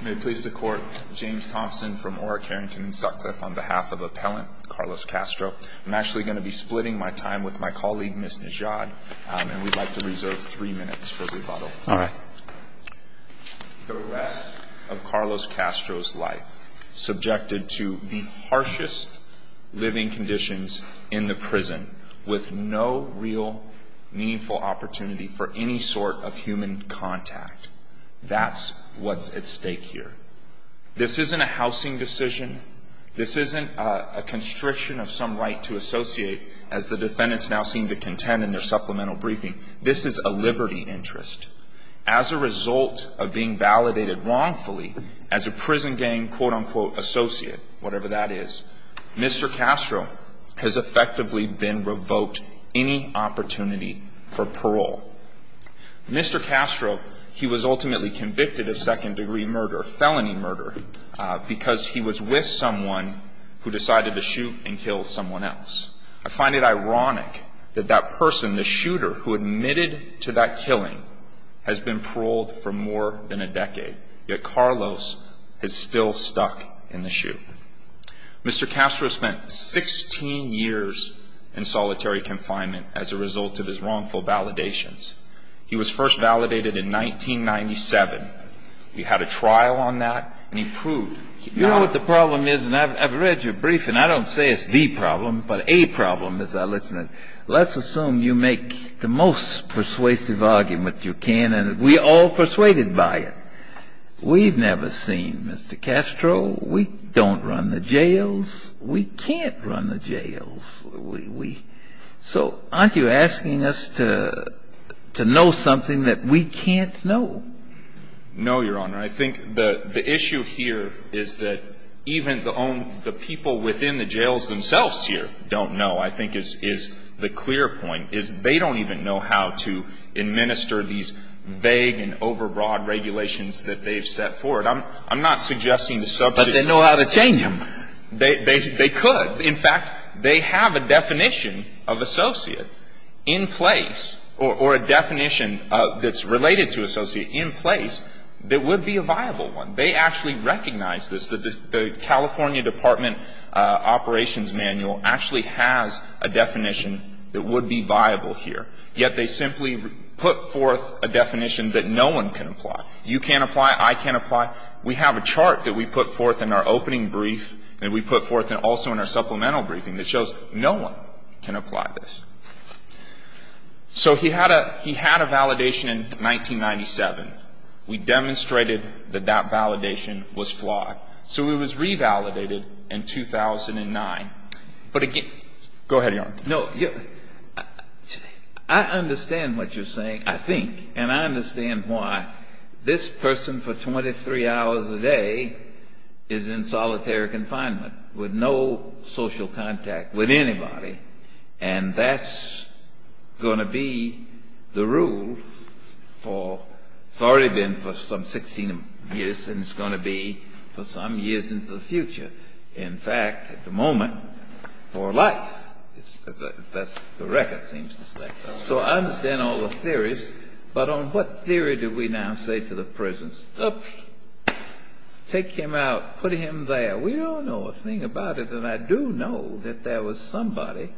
May it please the court, James Thompson from Ora, Carrington, and Sutcliffe on behalf of Appellant Carlos Castro. I'm actually going to be splitting my time with my colleague Ms. Najad and we'd like to reserve three minutes for rebuttal. Alright. The rest of Carlos Castro's life subjected to the harshest living conditions in the prison with no real meaningful opportunity for any sort of human contact. That's what's at stake here. This isn't a housing decision. This isn't a constriction of some right to associate as the defendants now seem to contend in their supplemental briefing. This is a liberty interest. As a result of being validated wrongfully as a prison gang quote unquote associate, whatever that is, Mr. Castro has effectively been revoked any opportunity for parole. Mr. Castro, he was ultimately convicted of second-degree murder, felony murder, because he was with someone who decided to shoot and kill someone else. I find it ironic that that person, the shooter, who admitted to that killing has been paroled for more than a decade, yet Carlos has still stuck in the chute. Mr. Castro spent 16 years in solitary confinement as a result of his wrongful validations. He was first validated in 1997. He had a trial on that and he proved he was not- You know what the problem is? And I've read your briefing. I don't say it's the problem, but a problem as I listen. Let's assume you make the most persuasive argument you can and we're all persuaded by it. We've never seen Mr. Castro. We don't run the jails. We can't run the jails. So aren't you asking us to know something that we can't know? No, Your Honor. I think the issue here is that even the people within the jails themselves here don't know, I think, is the clear point, is they don't even know how to administer these vague and overbroad regulations that they've set forward. I'm not suggesting the subject- But they know how to change them. They could. In fact, they have a definition of associate in place or a definition that's related to associate in place that would be a viable one. They actually recognize this. The California Department Operations Manual actually has a definition that would be viable here, yet they simply put forth a definition that no one can apply. You can't apply. I can't apply. We have a chart that we put forth in our opening brief and we put forth also in our supplemental briefing that shows no one can apply this. So he had a validation in 1997. We demonstrated that that validation was flawed. So it was revalidated in 2009. But again go ahead, Your Honor. No, I understand what you're saying, I think. And I understand why this person for 23 hours a day is in solitary confinement with no social contact with anybody. And that's going to be the rule for, it's already been for some 16 years and it's going to be for some years into the future. In fact, at the moment, for life. That's the record seems to say. So I understand all the theories. But on what theory do we now say to the prisoners? Oops. Take him out. Put him there. We don't know a thing about it. And I do know that there was somebody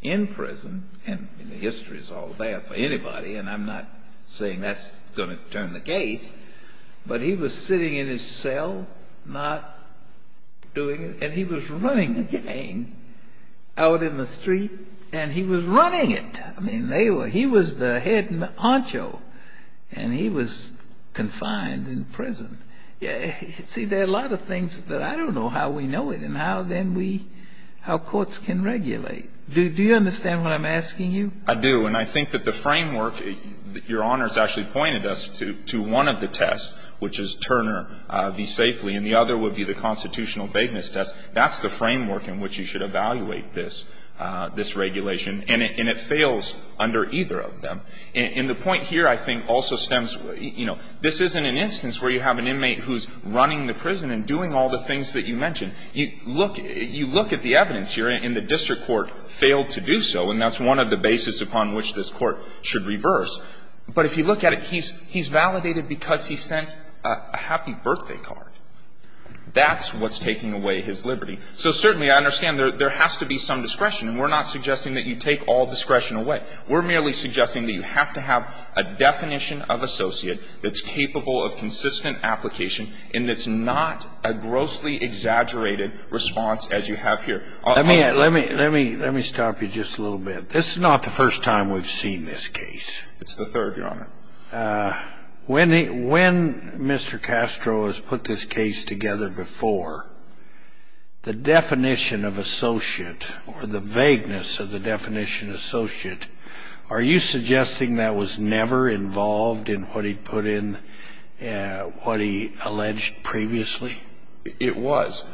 in prison, and the history is all there for anybody and I'm not saying that's going to turn the case, but he was sitting in his cell not doing, and he was running a gang out in the street and he was running it. I mean, they were, he was the head honcho and he was confined in prison. See there are a lot of things that I don't know how we know it and how then we, how courts can regulate. Do you understand what I'm asking you? I do. And I think that the framework, Your Honor has actually pointed us to one of the tests, which is Turner be safely, and the other would be the constitutional vagueness test. That's the framework in which you should evaluate this, this regulation. And it fails under either of them. And the point here, I think, also stems, you know, this isn't an instance where you have an inmate who's running the prison and doing all the things that you mentioned. You look, you look at the evidence here, and the district court failed to do so, and that's one of the basis upon which this court should reverse. But if you look at it, he's, he's validated because he sent a happy birthday card. That's what's taking away his liberty. So certainly I understand there, there has to be some discretion, and we're not suggesting that you take all discretion away. We're merely suggesting that you have to have a definition of associate that's capable of consistent application, and it's not a grossly exaggerated response as you have here. Let me, let me, let me, let me stop you just a little bit. This is not the first time we've seen this case. It's the third, Your Honor. When, when Mr. Castro has put this case together before, the definition of associate or the vagueness of the definition of associate, are you suggesting that was never involved in what he put in, what he alleged previously? It was.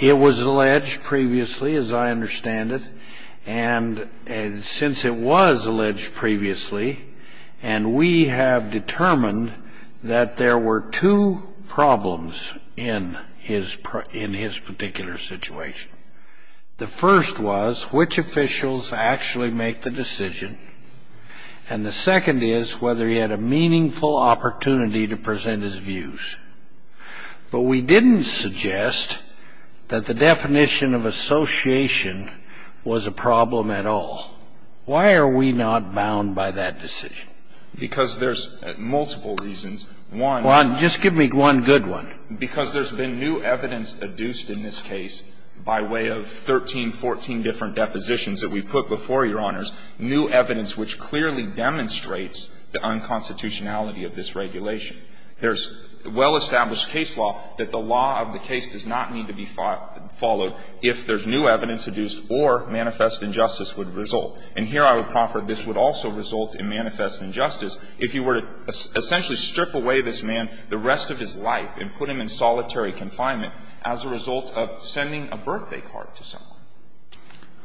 It was alleged previously, as I understand it, and, and since it was alleged previously, and we have determined that there were two problems in his, in his particular situation. The first was which officials actually make the decision, and the second is whether But we didn't suggest that the definition of association was a problem at all. Why are we not bound by that decision? Because there's multiple reasons. One. One. Just give me one good one. Because there's been new evidence adduced in this case by way of 13, 14 different depositions that we've put before, Your Honors, new evidence which clearly demonstrates the unconstitutionality of this regulation. There's well-established case law that the law of the case does not need to be followed if there's new evidence adduced or manifest injustice would result. And here I would proffer this would also result in manifest injustice if you were to essentially strip away this man the rest of his life and put him in solitary confinement as a result of sending a birthday card to someone.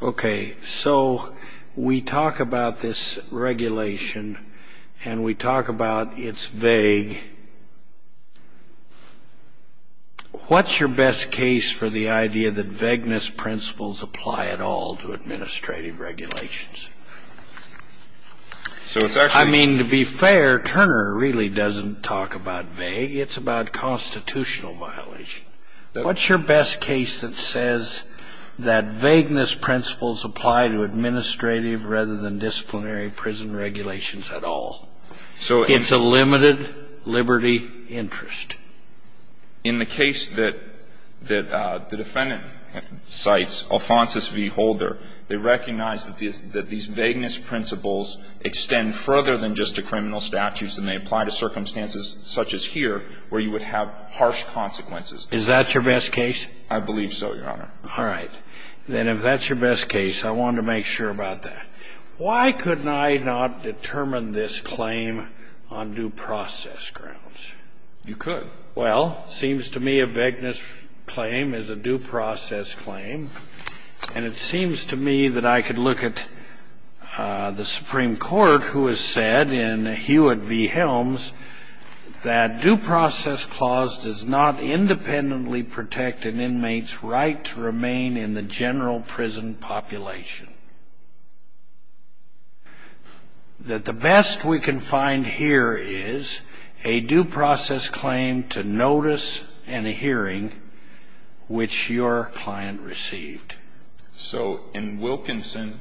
Okay. So we talk about this regulation, and we talk about it's vague. What's your best case for the idea that vagueness principles apply at all to administrative regulations? So it's actually I mean, to be fair, Turner really doesn't talk about vague. It's about constitutional violation. What's your best case that says that vagueness principles apply to administrative rather than disciplinary prison regulations at all? It's a limited liberty interest. In the case that the defendant cites, Alphonsus v. Holder, they recognize that these vagueness principles extend further than just to criminal statutes, and they apply to circumstances such as here where you would have harsh consequences. Is that your best case? I believe so, Your Honor. All right. Then if that's your best case, I want to make sure about that. Why couldn't I not determine this claim on due process grounds? You could. Well, it seems to me a vagueness claim is a due process claim. And it seems to me that I could look at the Supreme Court who has said in Hewitt v. Helms that due process clause does not independently protect an inmate's right to remain in the general prison population. That the best we can find here is a due process claim to notice and a hearing which your client received. So in Wilkinson,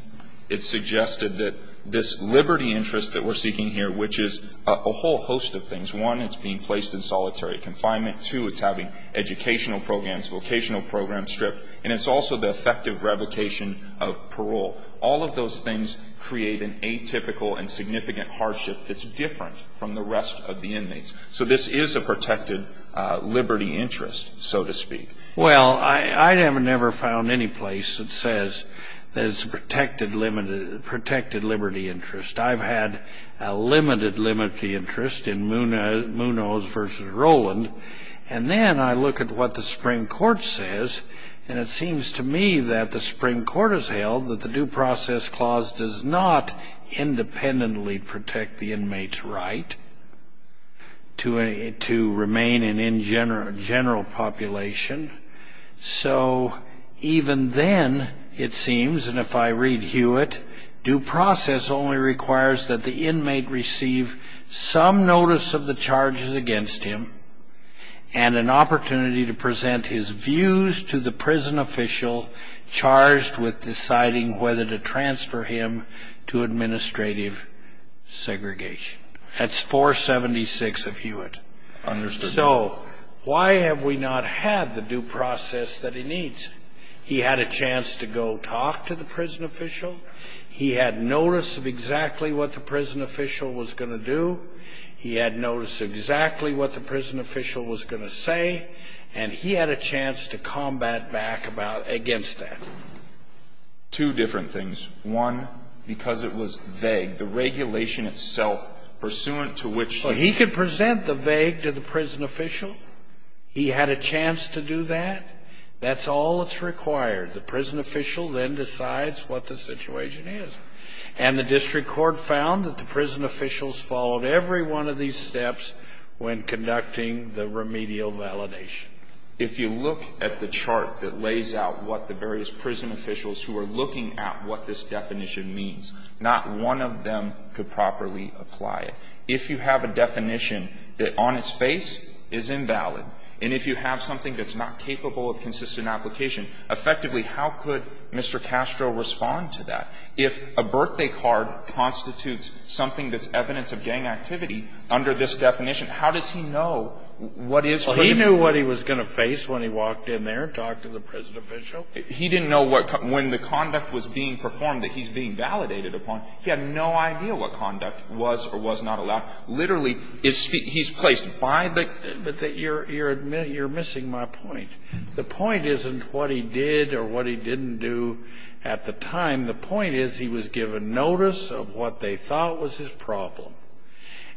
it suggested that this liberty interest that we're seeking here, which is a whole host of things. One, it's being placed in solitary confinement. Two, it's having educational programs, vocational programs stripped. And it's also the effective revocation of parole. All of those things create an atypical and significant hardship that's different from the rest of the inmates. So this is a protected liberty interest, so to speak. Well, I have never found any place that says that it's a protected liberty interest. I've had a limited liberty interest in Munoz v. Rowland, and then I look at what the Supreme Court says. And it seems to me that the Supreme Court has held that the due process clause does not independently protect the inmate's right to remain in general population. So even then, it seems, and if I read Hewitt, due process only requires that the inmate receive some notice of the charges against him and an opportunity to present his views to the prison official charged with deciding whether to transfer him to administrative segregation. That's 476 of Hewitt. So why have we not had the due process that he needs? He had a chance to go talk to the prison official. He had notice of exactly what the prison official was going to do. He had notice exactly what the prison official was going to say. And he had a chance to combat back against that. Two different things. One, because it was vague. The regulation itself, pursuant to which- He could present the vague to the prison official. He had a chance to do that. That's all that's required. The prison official then decides what the situation is. And the district court found that the prison officials followed every one of these steps when conducting the remedial validation. If you look at the chart that lays out what the various prison officials who are looking at what this definition means, not one of them could properly apply it. If you have a definition that on its face is invalid, and if you have something that's not capable of consistent application, effectively how could Mr. Castro respond to that? If a birthday card constitutes something that's evidence of gang activity under this definition, how does he know what is- So he knew what he was going to face when he walked in there and talked to the prison official? He didn't know what, when the conduct was being performed that he's being validated upon. He had no idea what conduct was or was not allowed. Literally, he's placed by the- But you're missing my point. The point isn't what he did or what he didn't do at the time. The point is he was given notice of what they thought was his problem.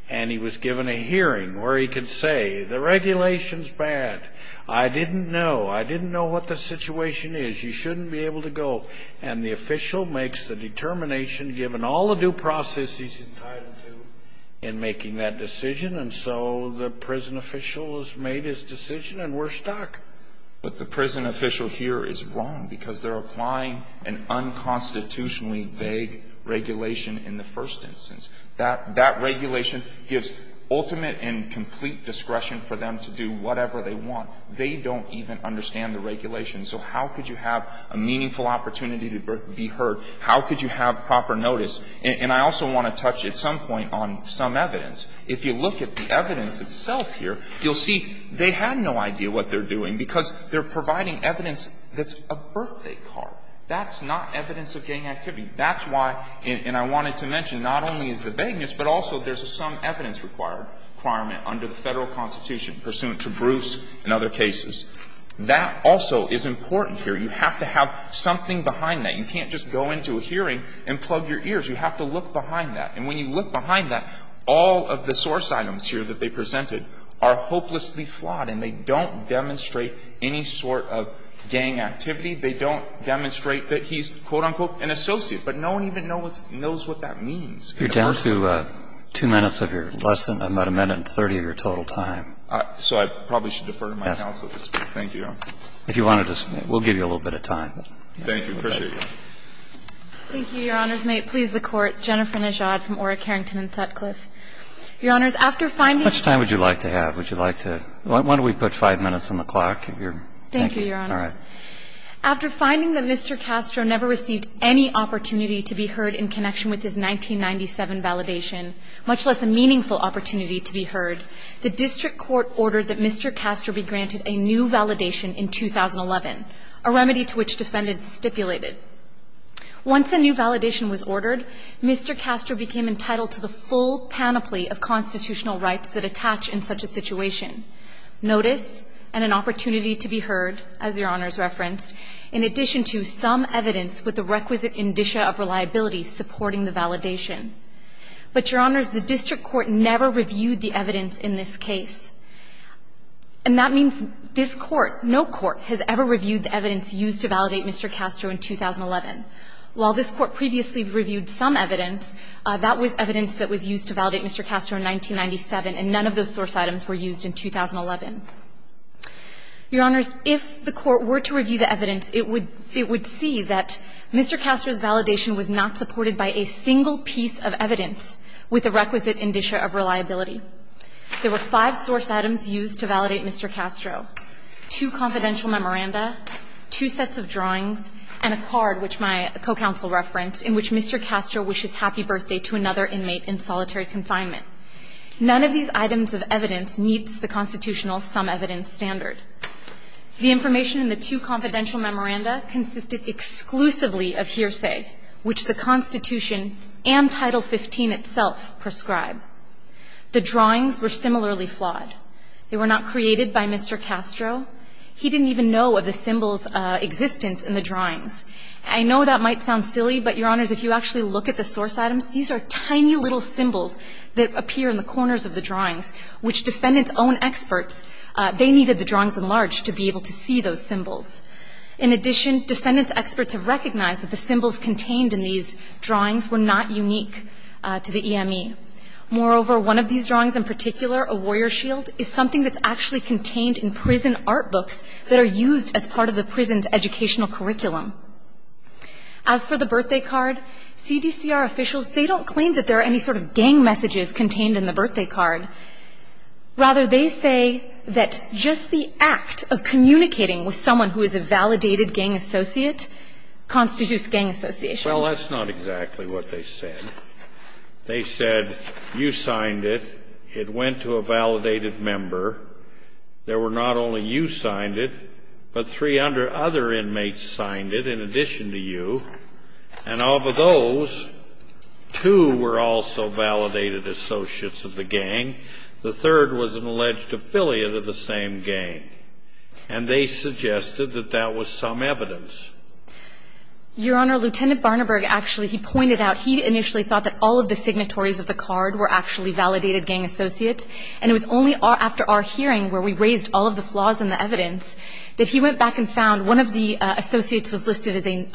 And he was given a hearing where he could say, the regulation's bad. I didn't know. I didn't know what the situation is. You shouldn't be able to go. And the official makes the determination, given all the due process he's entitled to, in making that decision. And so the prison official has made his decision and we're stuck. But the prison official here is wrong because they're applying an unconstitutionally vague regulation in the first instance. That regulation gives ultimate and complete discretion for them to do whatever they want. They don't even understand the regulation. So how could you have a meaningful opportunity to be heard? How could you have proper notice? And I also want to touch at some point on some evidence. If you look at the evidence itself here, you'll see they had no idea what they're doing because they're providing evidence that's a birthday card. That's not evidence of gang activity. That's why, and I wanted to mention, not only is the vagueness, but also there's some evidence requirement under the Federal Constitution pursuant to Bruce and other cases. That also is important here. You have to have something behind that. You can't just go into a hearing and plug your ears. You have to look behind that. And when you look behind that, all of the source items here that they presented are hopelessly flawed and they don't demonstrate any sort of gang activity. They don't demonstrate that he's, quote, unquote, an associate. But no one even knows what that means. You're down to two minutes of your lesson, about a minute and 30 of your total time. So I probably should defer to my counsel to speak. Thank you, Your Honor. If you want to, we'll give you a little bit of time. Thank you. Appreciate you. Thank you, Your Honor's mate. Please, the Court. Jennifer Najad from Orrick, Harrington and Sutcliffe. Your Honors, after finding Mr. Castro never received any opportunity to be heard in connection with his 1997 validation, much less a meaningful opportunity to be heard, the district court ordered that Mr. Castro be granted a new validation in 2011, a remedy to which defendants stipulated. Once a new validation was ordered, Mr. Castro became entitled to the full panoply of constitutional rights that attach in such a situation, notice and an opportunity to be heard, as Your Honors referenced, in addition to some evidence with the requisite indicia of reliability supporting the validation. But, Your Honors, the district court never reviewed the evidence in this case. And that means this Court, no Court, has ever reviewed the evidence used to validate Mr. Castro in 2011. While this Court previously reviewed some evidence, that was evidence that was used to validate Mr. Castro in 1997, and none of those source items were used in 2011. Your Honors, if the Court were to review the evidence, it would see that Mr. Castro's validation was not supported by a single piece of evidence with the requisite indicia of reliability. There were five source items used to validate Mr. Castro, two confidential memoranda, two sets of drawings, and a card, which my co-counsel referenced, in which Mr. Castro wishes happy birthday to another inmate in solitary confinement. None of these items of evidence meets the constitutional sum evidence standard. The information in the two confidential memoranda consisted exclusively of hearsay, which the Constitution and Title 15 itself prescribe. The drawings were similarly flawed. They were not created by Mr. Castro. He didn't even know of the symbols' existence in the drawings. I know that might sound silly, but, Your Honors, if you actually look at the source items, these are tiny little symbols that appear in the corners of the drawings, which defendants' own experts, they needed the drawings enlarged to be able to see those symbols. In addition, defendants' experts have recognized that the symbols contained in these drawings were not unique to the EME. Moreover, one of these drawings in particular, a warrior shield, is something that's actually contained in prison art books that are used as part of the prison's educational curriculum. As for the birthday card, CDCR officials, they don't claim that there are any sort of gang messages contained in the birthday card. Rather, they say that just the act of communicating with someone who is a validated gang associate constitutes gang association. Well, that's not exactly what they said. They said, you signed it, it went to a validated member. There were not only you signed it, but three other inmates signed it in addition to you. And of those, two were also validated associates of the gang. The third was an alleged affiliate of the same gang. And they suggested that that was some evidence. Your Honor, Lieutenant Barnaburg actually, he pointed out, he initially thought that all of the signatories of the card were actually validated gang associates, and it was only after our hearing where we raised all of the flaws in the evidence that he went back and found one of the associates was listed as a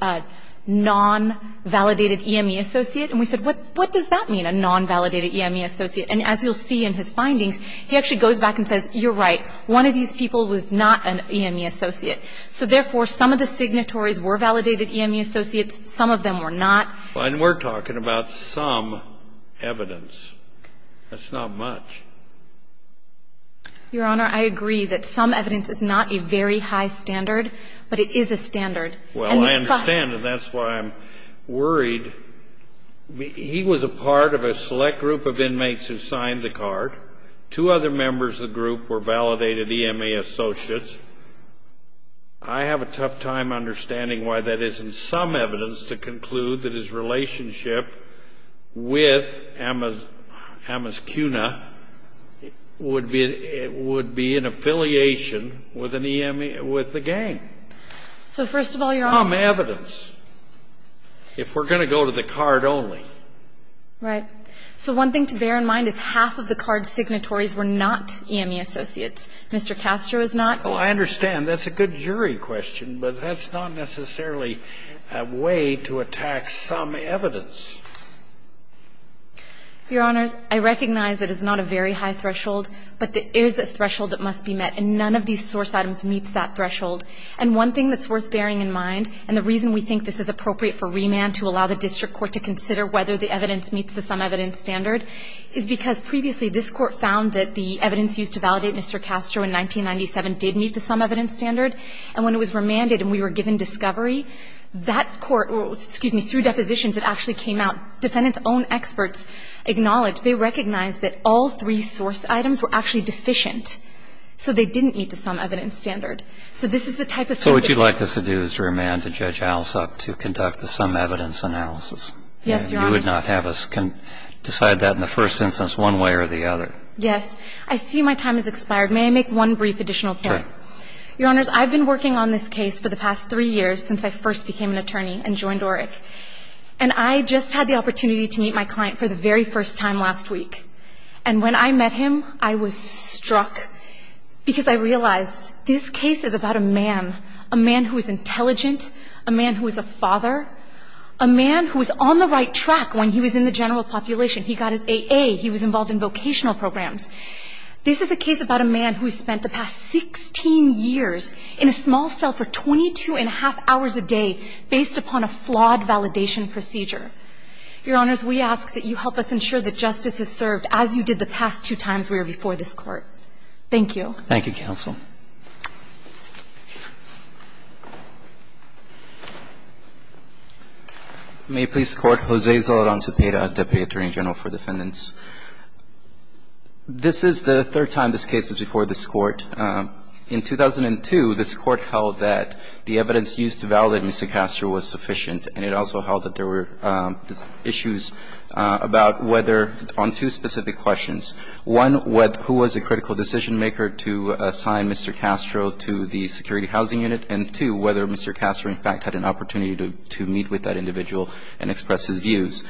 non-validated EME associate. And we said, what does that mean, a non-validated EME associate? And as you'll see in his findings, he actually goes back and says, you're right. One of these people was not an EME associate. So therefore, some of the signatories were validated EME associates. Some of them were not. And we're talking about some evidence. That's not much. Your Honor, I agree that some evidence is not a very high standard. But it is a standard. Well, I understand, and that's why I'm worried. He was a part of a select group of inmates who signed the card. Two other members of the group were validated EME associates. I have a tough time understanding why that isn't some evidence to conclude that his alias, Amos Kuna, would be an affiliation with an EME, with the gang. So first of all, Your Honor. Some evidence. If we're going to go to the card only. Right. So one thing to bear in mind is half of the card signatories were not EME associates. Mr. Castro is not. Well, I understand. That's a good jury question. But that's not necessarily a way to attack some evidence. Your Honors, I recognize that it's not a very high threshold. But there is a threshold that must be met. And none of these source items meets that threshold. And one thing that's worth bearing in mind, and the reason we think this is appropriate for remand to allow the district court to consider whether the evidence meets the sum evidence standard, is because previously this court found that the evidence used to validate Mr. Castro in 1997 did meet the sum evidence standard. And when it was remanded and we were given discovery, that court, excuse me, through depositions, it actually came out, defendants' own experts acknowledged, they recognized that all three source items were actually deficient. So they didn't meet the sum evidence standard. So this is the type of. So what you'd like us to do is to remand to Judge Alsop to conduct the sum evidence analysis. Yes, Your Honors. You would not have us decide that in the first instance one way or the other. Yes. I see my time has expired. May I make one brief additional point? Sure. Your Honors, I've been working on this case for the past three years since I first became an attorney and joined ORIC. And I just had the opportunity to meet my client for the very first time last week. And when I met him, I was struck because I realized this case is about a man, a man who is intelligent, a man who is a father, a man who was on the right track when he was in the general population. He got his AA. He was involved in vocational programs. This is a case about a man who spent the past 16 years in a small cell for 22 and 25 years in a large facility, based upon a flawed validation procedure. Your Honors, we ask that you help us ensure that justice is served as you did the past two times we were before this Court. Thank you. Thank you, counsel. May it please the Court. Jose Zoledon Zepeda, Deputy Attorney General for Defendants. This is the third time this case has been before this Court. In 2002, this Court held that the evidence used to validate Mr. Castro was sufficient, and it also held that there were issues about whether – on two specific questions. One, who was a critical decision-maker to assign Mr. Castro to the security housing unit, and two, whether Mr. Castro, in fact, had an opportunity to meet with that individual and express his views.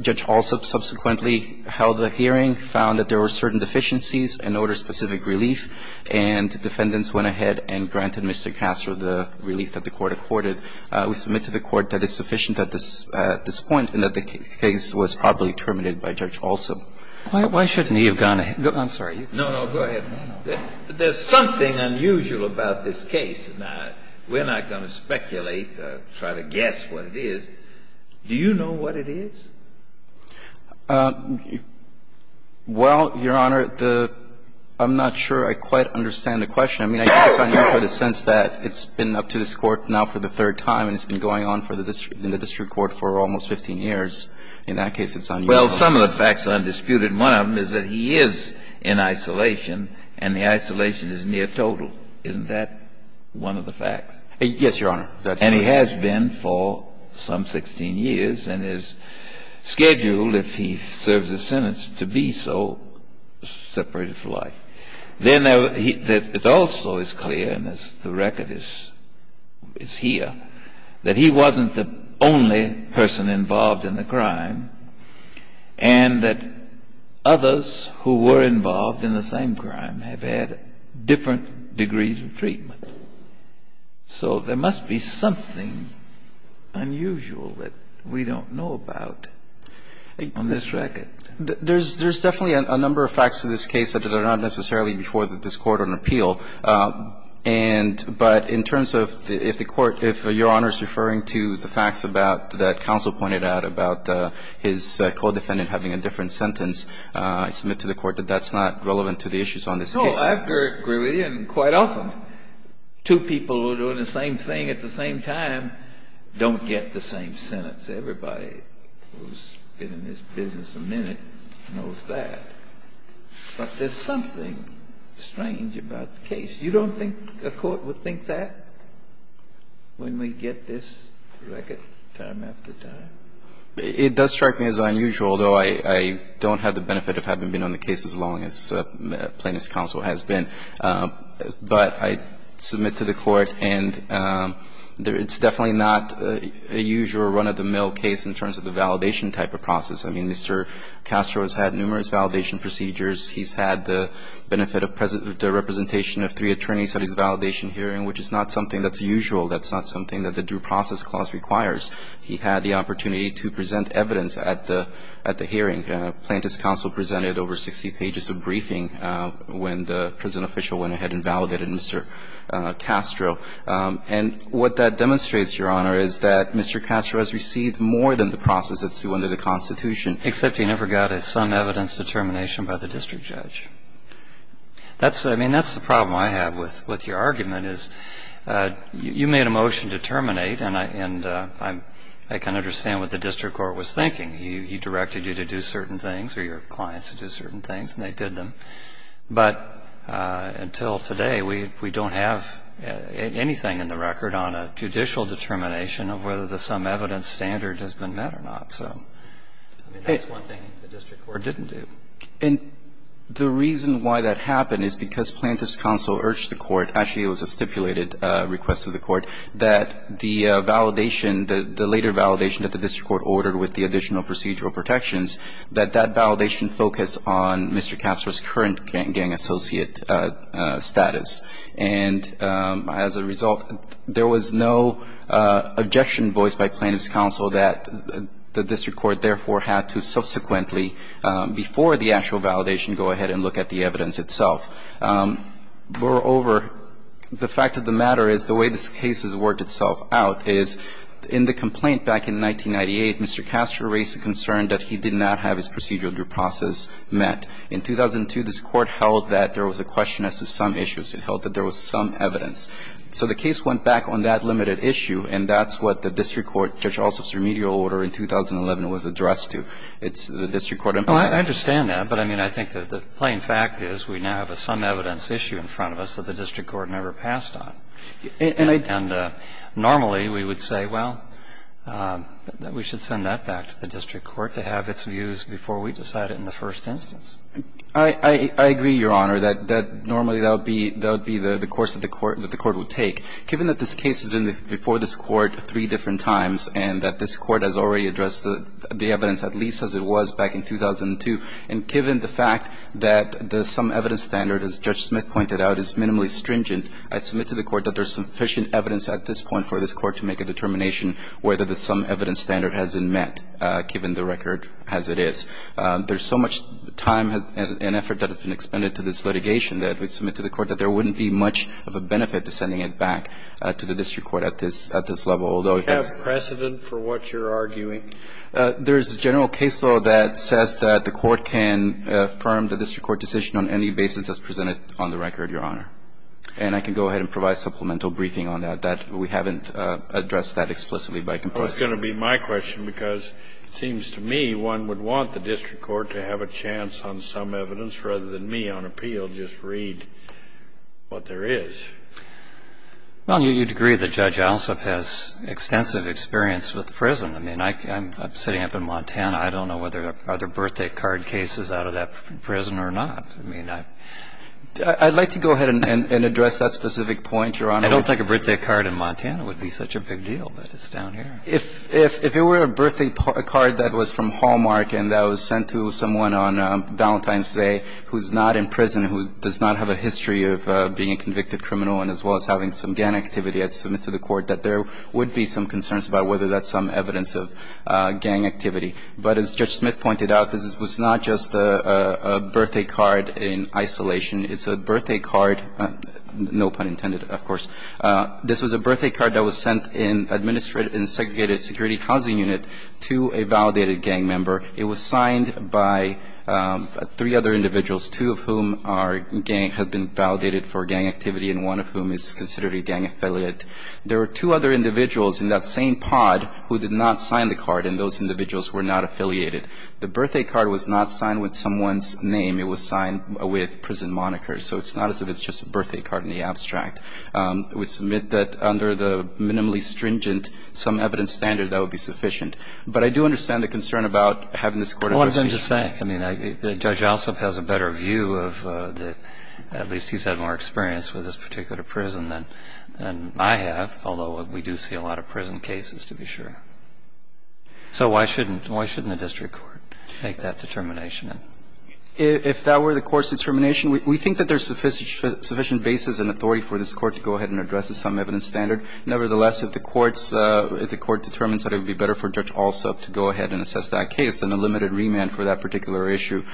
Judge Hall subsequently held a hearing, found that there were certain deficiencies in order-specific relief, and defendants went ahead and granted Mr. Castro the relief that the Court accorded. We submit to the Court that it's sufficient at this point and that the case was probably terminated by Judge Alsop. Why shouldn't he have gone ahead? I'm sorry. No, no, go ahead. There's something unusual about this case, and we're not going to speculate or try to guess what it is. Do you know what it is? Well, Your Honor, the – I'm not sure I quite understand the question. I mean, I think it's unusual in the sense that it's been up to this Court now for the third time, and it's been going on in the district court for almost 15 years. In that case, it's unusual. Well, some of the facts are undisputed. One of them is that he is in isolation, and the isolation is near total. Isn't that one of the facts? Yes, Your Honor. And he has been for some 16 years, and his schedule, if he serves a sentence, to be so, separated for life. Then it also is clear, and the record is here, that he wasn't the only person involved in the crime, and that others who were involved in the same crime have had different degrees of treatment. So there must be something unusual that we don't know about on this record. There's definitely a number of facts in this case that are not necessarily before this Court on appeal. And – but in terms of if the Court – if Your Honor is referring to the facts about – that counsel pointed out about his co-defendant having a different sentence, I submit to the Court that that's not relevant to the issues on this case. No, I agree with you, and quite often, two people who are doing the same thing at the same time don't get the same sentence. Everybody who's been in this business a minute knows that. But there's something strange about the case. You don't think the Court would think that when we get this record time after time? It does strike me as unusual, although I don't have the benefit of having been on the plaintiff's counsel has been. But I submit to the Court, and it's definitely not a usual run-of-the-mill case in terms of the validation type of process. I mean, Mr. Castro has had numerous validation procedures. He's had the benefit of the representation of three attorneys at his validation hearing, which is not something that's usual. That's not something that the Due Process Clause requires. He had the opportunity to present evidence at the hearing. The plaintiff's counsel presented over 60 pages of briefing when the prison official went ahead and validated Mr. Castro. And what that demonstrates, Your Honor, is that Mr. Castro has received more than the process at sue under the Constitution. Except he never got some evidence determination by the district judge. That's the problem I have with your argument, is you made a motion to terminate, and I can understand what the district court was thinking. He directed you to do certain things or your clients to do certain things, and they did them. But until today, we don't have anything in the record on a judicial determination of whether the sum evidence standard has been met or not. So that's one thing the district court didn't do. And the reason why that happened is because plaintiff's counsel urged the Court actually it was a stipulated request of the Court, that the validation, the later validation of procedural protections, that that validation focus on Mr. Castro's current gang associate status. And as a result, there was no objection voiced by plaintiff's counsel that the district court, therefore, had to subsequently, before the actual validation, go ahead and look at the evidence itself. Moreover, the fact of the matter is the way this case has worked itself out is, in the first instance, Mr. Castro's counsel was concerned that he did not have his procedural due process met. In 2002, this Court held that there was a question as to some issues. It held that there was some evidence. So the case went back on that limited issue, and that's what the district court, Judge Alsop's remedial order in 2011, was addressed to. It's the district court emphasized. Well, I understand that, but I mean, I think that the plain fact is we now have a sum evidence issue in front of us that the district court never passed on. And normally, we would say, well, we should send that back to the district court to have its views before we decide it in the first instance. I agree, Your Honor, that normally that would be the course that the court would take. Given that this case has been before this Court three different times and that this Court has already addressed the evidence, at least as it was back in 2002, and given the fact that the sum evidence standard, as Judge Smith pointed out, is minimally stringent, I submit to the Court that there's sufficient evidence at this point for this Court to make a determination whether the sum evidence standard has been met, given the record as it is. There's so much time and effort that has been expended to this litigation that we submit to the Court that there wouldn't be much of a benefit to sending it back to the district court at this level, although it has been ---- Do you have precedent for what you're arguing? There's a general case law that says that the Court can affirm the district court decision on any basis as presented on the record, Your Honor. And I can go ahead and provide supplemental briefing on that. That we haven't addressed that explicitly by compulsion. Well, it's going to be my question, because it seems to me one would want the district court to have a chance on some evidence rather than me on appeal, just read what there is. Well, you'd agree that Judge Alsop has extensive experience with prison. I mean, I'm sitting up in Montana. I don't know whether there are birthday card cases out of that prison or not. I'd like to go ahead and address that specific point, Your Honor. I don't think a birthday card in Montana would be such a big deal, but it's down here. If it were a birthday card that was from Hallmark and that was sent to someone on Valentine's Day who's not in prison, who does not have a history of being a convicted criminal and as well as having some gang activity, I'd submit to the Court that there would be some concerns about whether that's some evidence of gang activity. But as Judge Smith pointed out, this was not just a birthday card in isolation. It's a birthday card, no pun intended of course, this was a birthday card that was sent in a segregated security housing unit to a validated gang member. It was signed by three other individuals, two of whom had been validated for gang activity and one of whom is considered a gang affiliate. There were two other individuals in that same pod who did not sign the card, and those individuals were not affiliated. The birthday card was not signed with someone's name, it was signed with prison monikers, so it's not as if it's just a birthday card in the abstract. I would submit that under the minimally stringent, some evidence standard, that would be sufficient. But I do understand the concern about having this court- What I'm just saying, I mean, Judge Ossoff has a better view of the, at least he's had more experience with this particular prison than I have, although we do see a lot of prison cases to be sure. So why shouldn't, why shouldn't the district court make that determination? If that were the court's determination, we think that there's sufficient basis and authority for this court to go ahead and address this some evidence standard. Nevertheless, if the court's, if the court determines that it would be better for Judge Ossoff to go ahead and assess that case, then a limited remand for that particular issue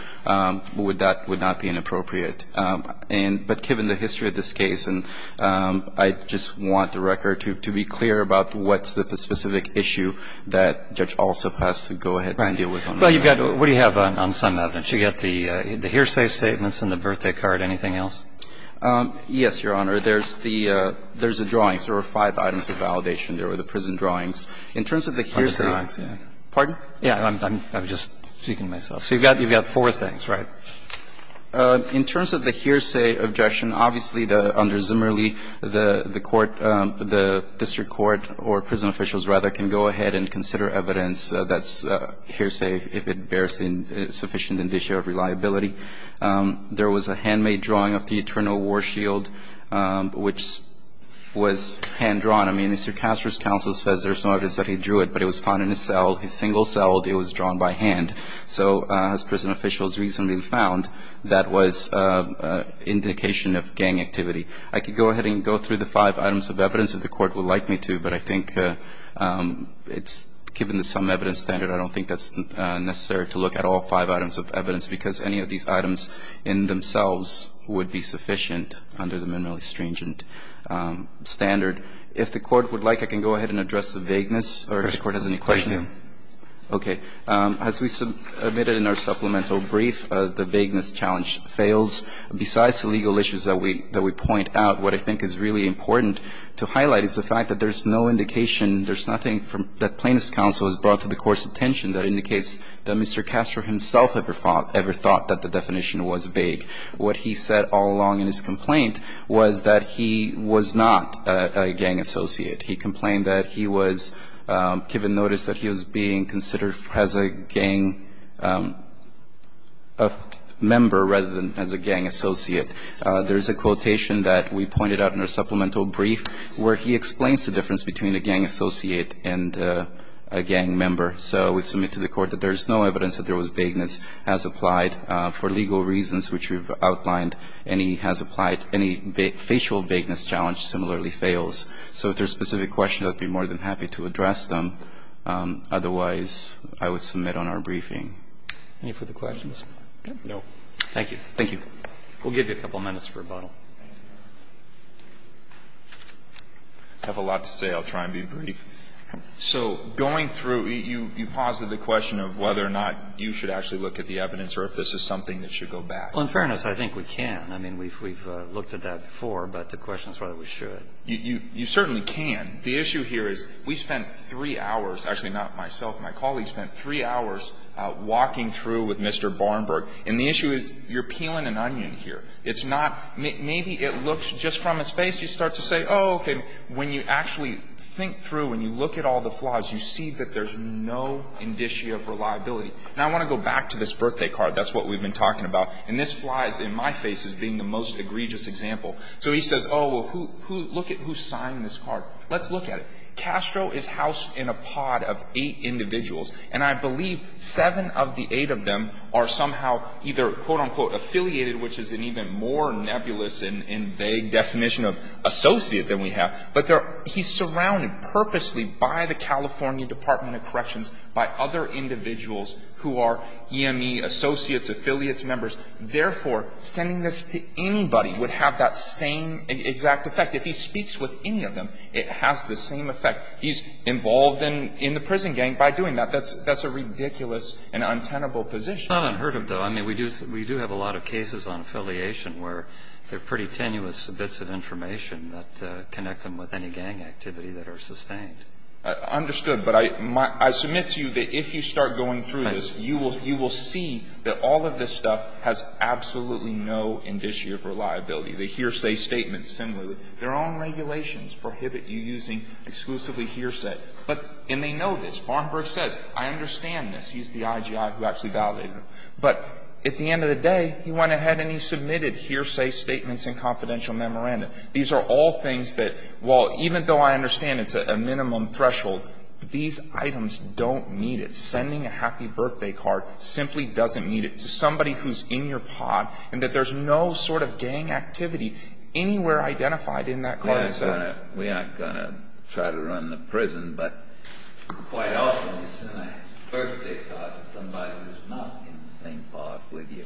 would not be inappropriate. And but given the history of this case, and I just want the record to be clear about what's the specific issue that Judge Ossoff has to go ahead and deal with on a minimum level. Right. Well, you've got, what do you have on some evidence? You've got the hearsay statements and the birthday card. Anything else? Yes, Your Honor. There's the, there's the drawings. There were five items of validation. There were the prison drawings. In terms of the hearsay- The prison drawings, yeah. Pardon? Yeah. I'm just speaking to myself. So you've got, you've got four things, right? In terms of the hearsay objection, obviously, under Zimmerle, the court, the district court, or prison officials, rather, can go ahead and consider evidence that's hearsay if it bears sufficient indicia of reliability. There was a handmade drawing of the eternal war shield, which was hand-drawn. I mean, Mr. Castro's counsel says there's no evidence that he drew it, but it was found in his cell, his single cell, it was drawn by hand. So as prison officials recently found, that was indication of gang activity. I could go ahead and go through the five items of evidence if the Court would like me to, but I think it's, given the sum evidence standard, I don't think that's necessary to look at all five items of evidence, because any of these items in themselves would be sufficient under the Minimally Stringent Standard. If the Court would like, I can go ahead and address the vagueness, or if the Court has any questions. Okay. As we submitted in our supplemental brief, the vagueness challenge fails. Besides the legal issues that we point out, what I think is really important to highlight is the fact that there's no indication, there's nothing that Plaintiff's counsel has brought to the Court's attention that indicates that Mr. Castro himself ever thought that the definition was vague. What he said all along in his complaint was that he was not a gang associate. He complained that he was given notice that he was being considered as a gang member rather than as a gang associate. There's a quotation that we pointed out in our supplemental brief where he explains the difference between a gang associate and a gang member. So we submit to the Court that there's no evidence that there was vagueness as applied for legal reasons, which we've outlined. Any has applied, any facial vagueness challenge similarly fails. So if there's specific questions, I'd be more than happy to address them. Otherwise, I would submit on our briefing. Any further questions? No. Thank you. Thank you. We'll give you a couple minutes for rebuttal. I have a lot to say. I'll try and be brief. So going through, you posited the question of whether or not you should actually look at the evidence or if this is something that should go back. Well, in fairness, I think we can. I mean, we've looked at that before, but the question is whether we should. You certainly can. The issue here is we spent three hours, actually not myself, my colleagues spent three hours walking through with Mr. Barnberg. And the issue is you're peeling an onion here. It's not maybe it looks just from his face, you start to say, oh, okay. When you actually think through, when you look at all the flies, you see that there's no indicia of reliability. And I want to go back to this birthday card. That's what we've been talking about. And this flies in my face as being the most egregious example. So he says, oh, well, who look at who signed this card? Let's look at it. Castro is housed in a pod of eight individuals. And I believe seven of the eight of them are somehow either, quote, unquote, affiliated, which is an even more nebulous and vague definition of associate than we have, but he's surrounded purposely by the California Department of Corrections, by other individuals who are EME associates, affiliates members, therefore, sending this to anybody would have that same exact effect. If he speaks with any of them, it has the same effect. He's involved in the prison gang by doing that. That's a ridiculous and untenable position. It's not unheard of, though. I mean, we do have a lot of cases on affiliation where they're pretty tenuous bits of information that connect them with any gang activity that are sustained. Understood. But I submit to you that if you start going through this, you will see that all of this stuff has absolutely no indicia of reliability. The hearsay statements, similarly. Their own regulations prohibit you using exclusively hearsay. But, and they know this. Barnabas says, I understand this. He's the IGI who actually validated it. But at the end of the day, he went ahead and he submitted hearsay statements and confidential memorandum. These are all things that, well, even though I understand it's a minimum threshold, these items don't need it. Sending a happy birthday card simply doesn't need it to somebody who's in your pod and that there's no sort of gang activity anywhere identified in that card. We aren't going to try to run the prison, but quite often you send a birthday card to somebody who's not in the same pod with you.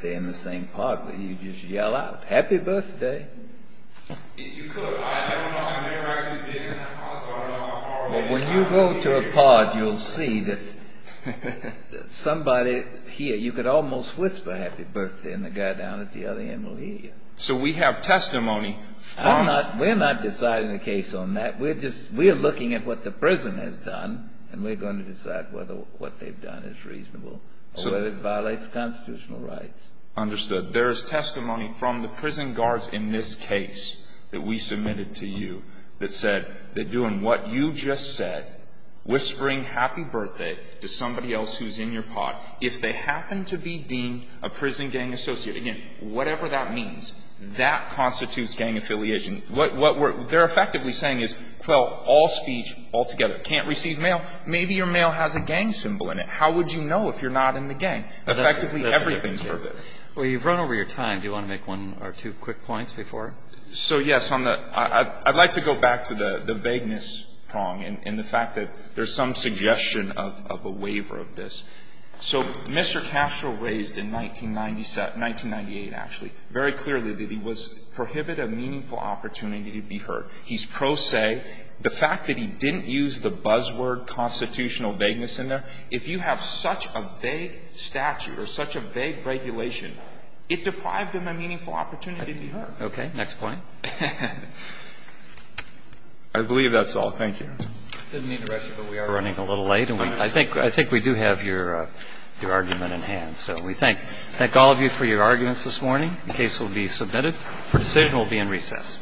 They're in the same pod with you, you just yell out, happy birthday. You could. I never actually been in that pod, so I don't know how far away they are. Well, when you go to a pod, you'll see that somebody here, you could almost whisper happy birthday and the guy down at the other end will hear you. So we have testimony from. We're not deciding the case on that. We're just, we're looking at what the prison has done and we're going to decide whether what they've done is reasonable or whether it violates constitutional rights. Understood. There's testimony from the prison guards in this case that we submitted to you that said they're doing what you just said, whispering happy birthday to somebody else who's in your pod. If they happen to be deemed a prison gang associate, whatever that means, that constitutes gang affiliation. What they're effectively saying is, well, all speech altogether. Can't receive mail, maybe your mail has a gang symbol in it. How would you know if you're not in the gang? Effectively, everything's verbatim. Well, you've run over your time. Do you want to make one or two quick points before? So, yes. I'd like to go back to the vagueness prong and the fact that there's some suggestion of a waiver of this. So Mr. Castro raised in 1997 1998, actually, very clearly that he was prohibit a meaningful opportunity to be heard. He's pro se. The fact that he didn't use the buzzword constitutional vagueness in there, if you have such a vague statute or such a vague regulation, it deprived him a meaningful opportunity to be heard. Okay. Next point. I believe that's all. Thank you. We're running a little late, and I think we do have your argument in hand. So we thank all of you for your arguments this morning. The case will be submitted. The decision will be in recess. All rise.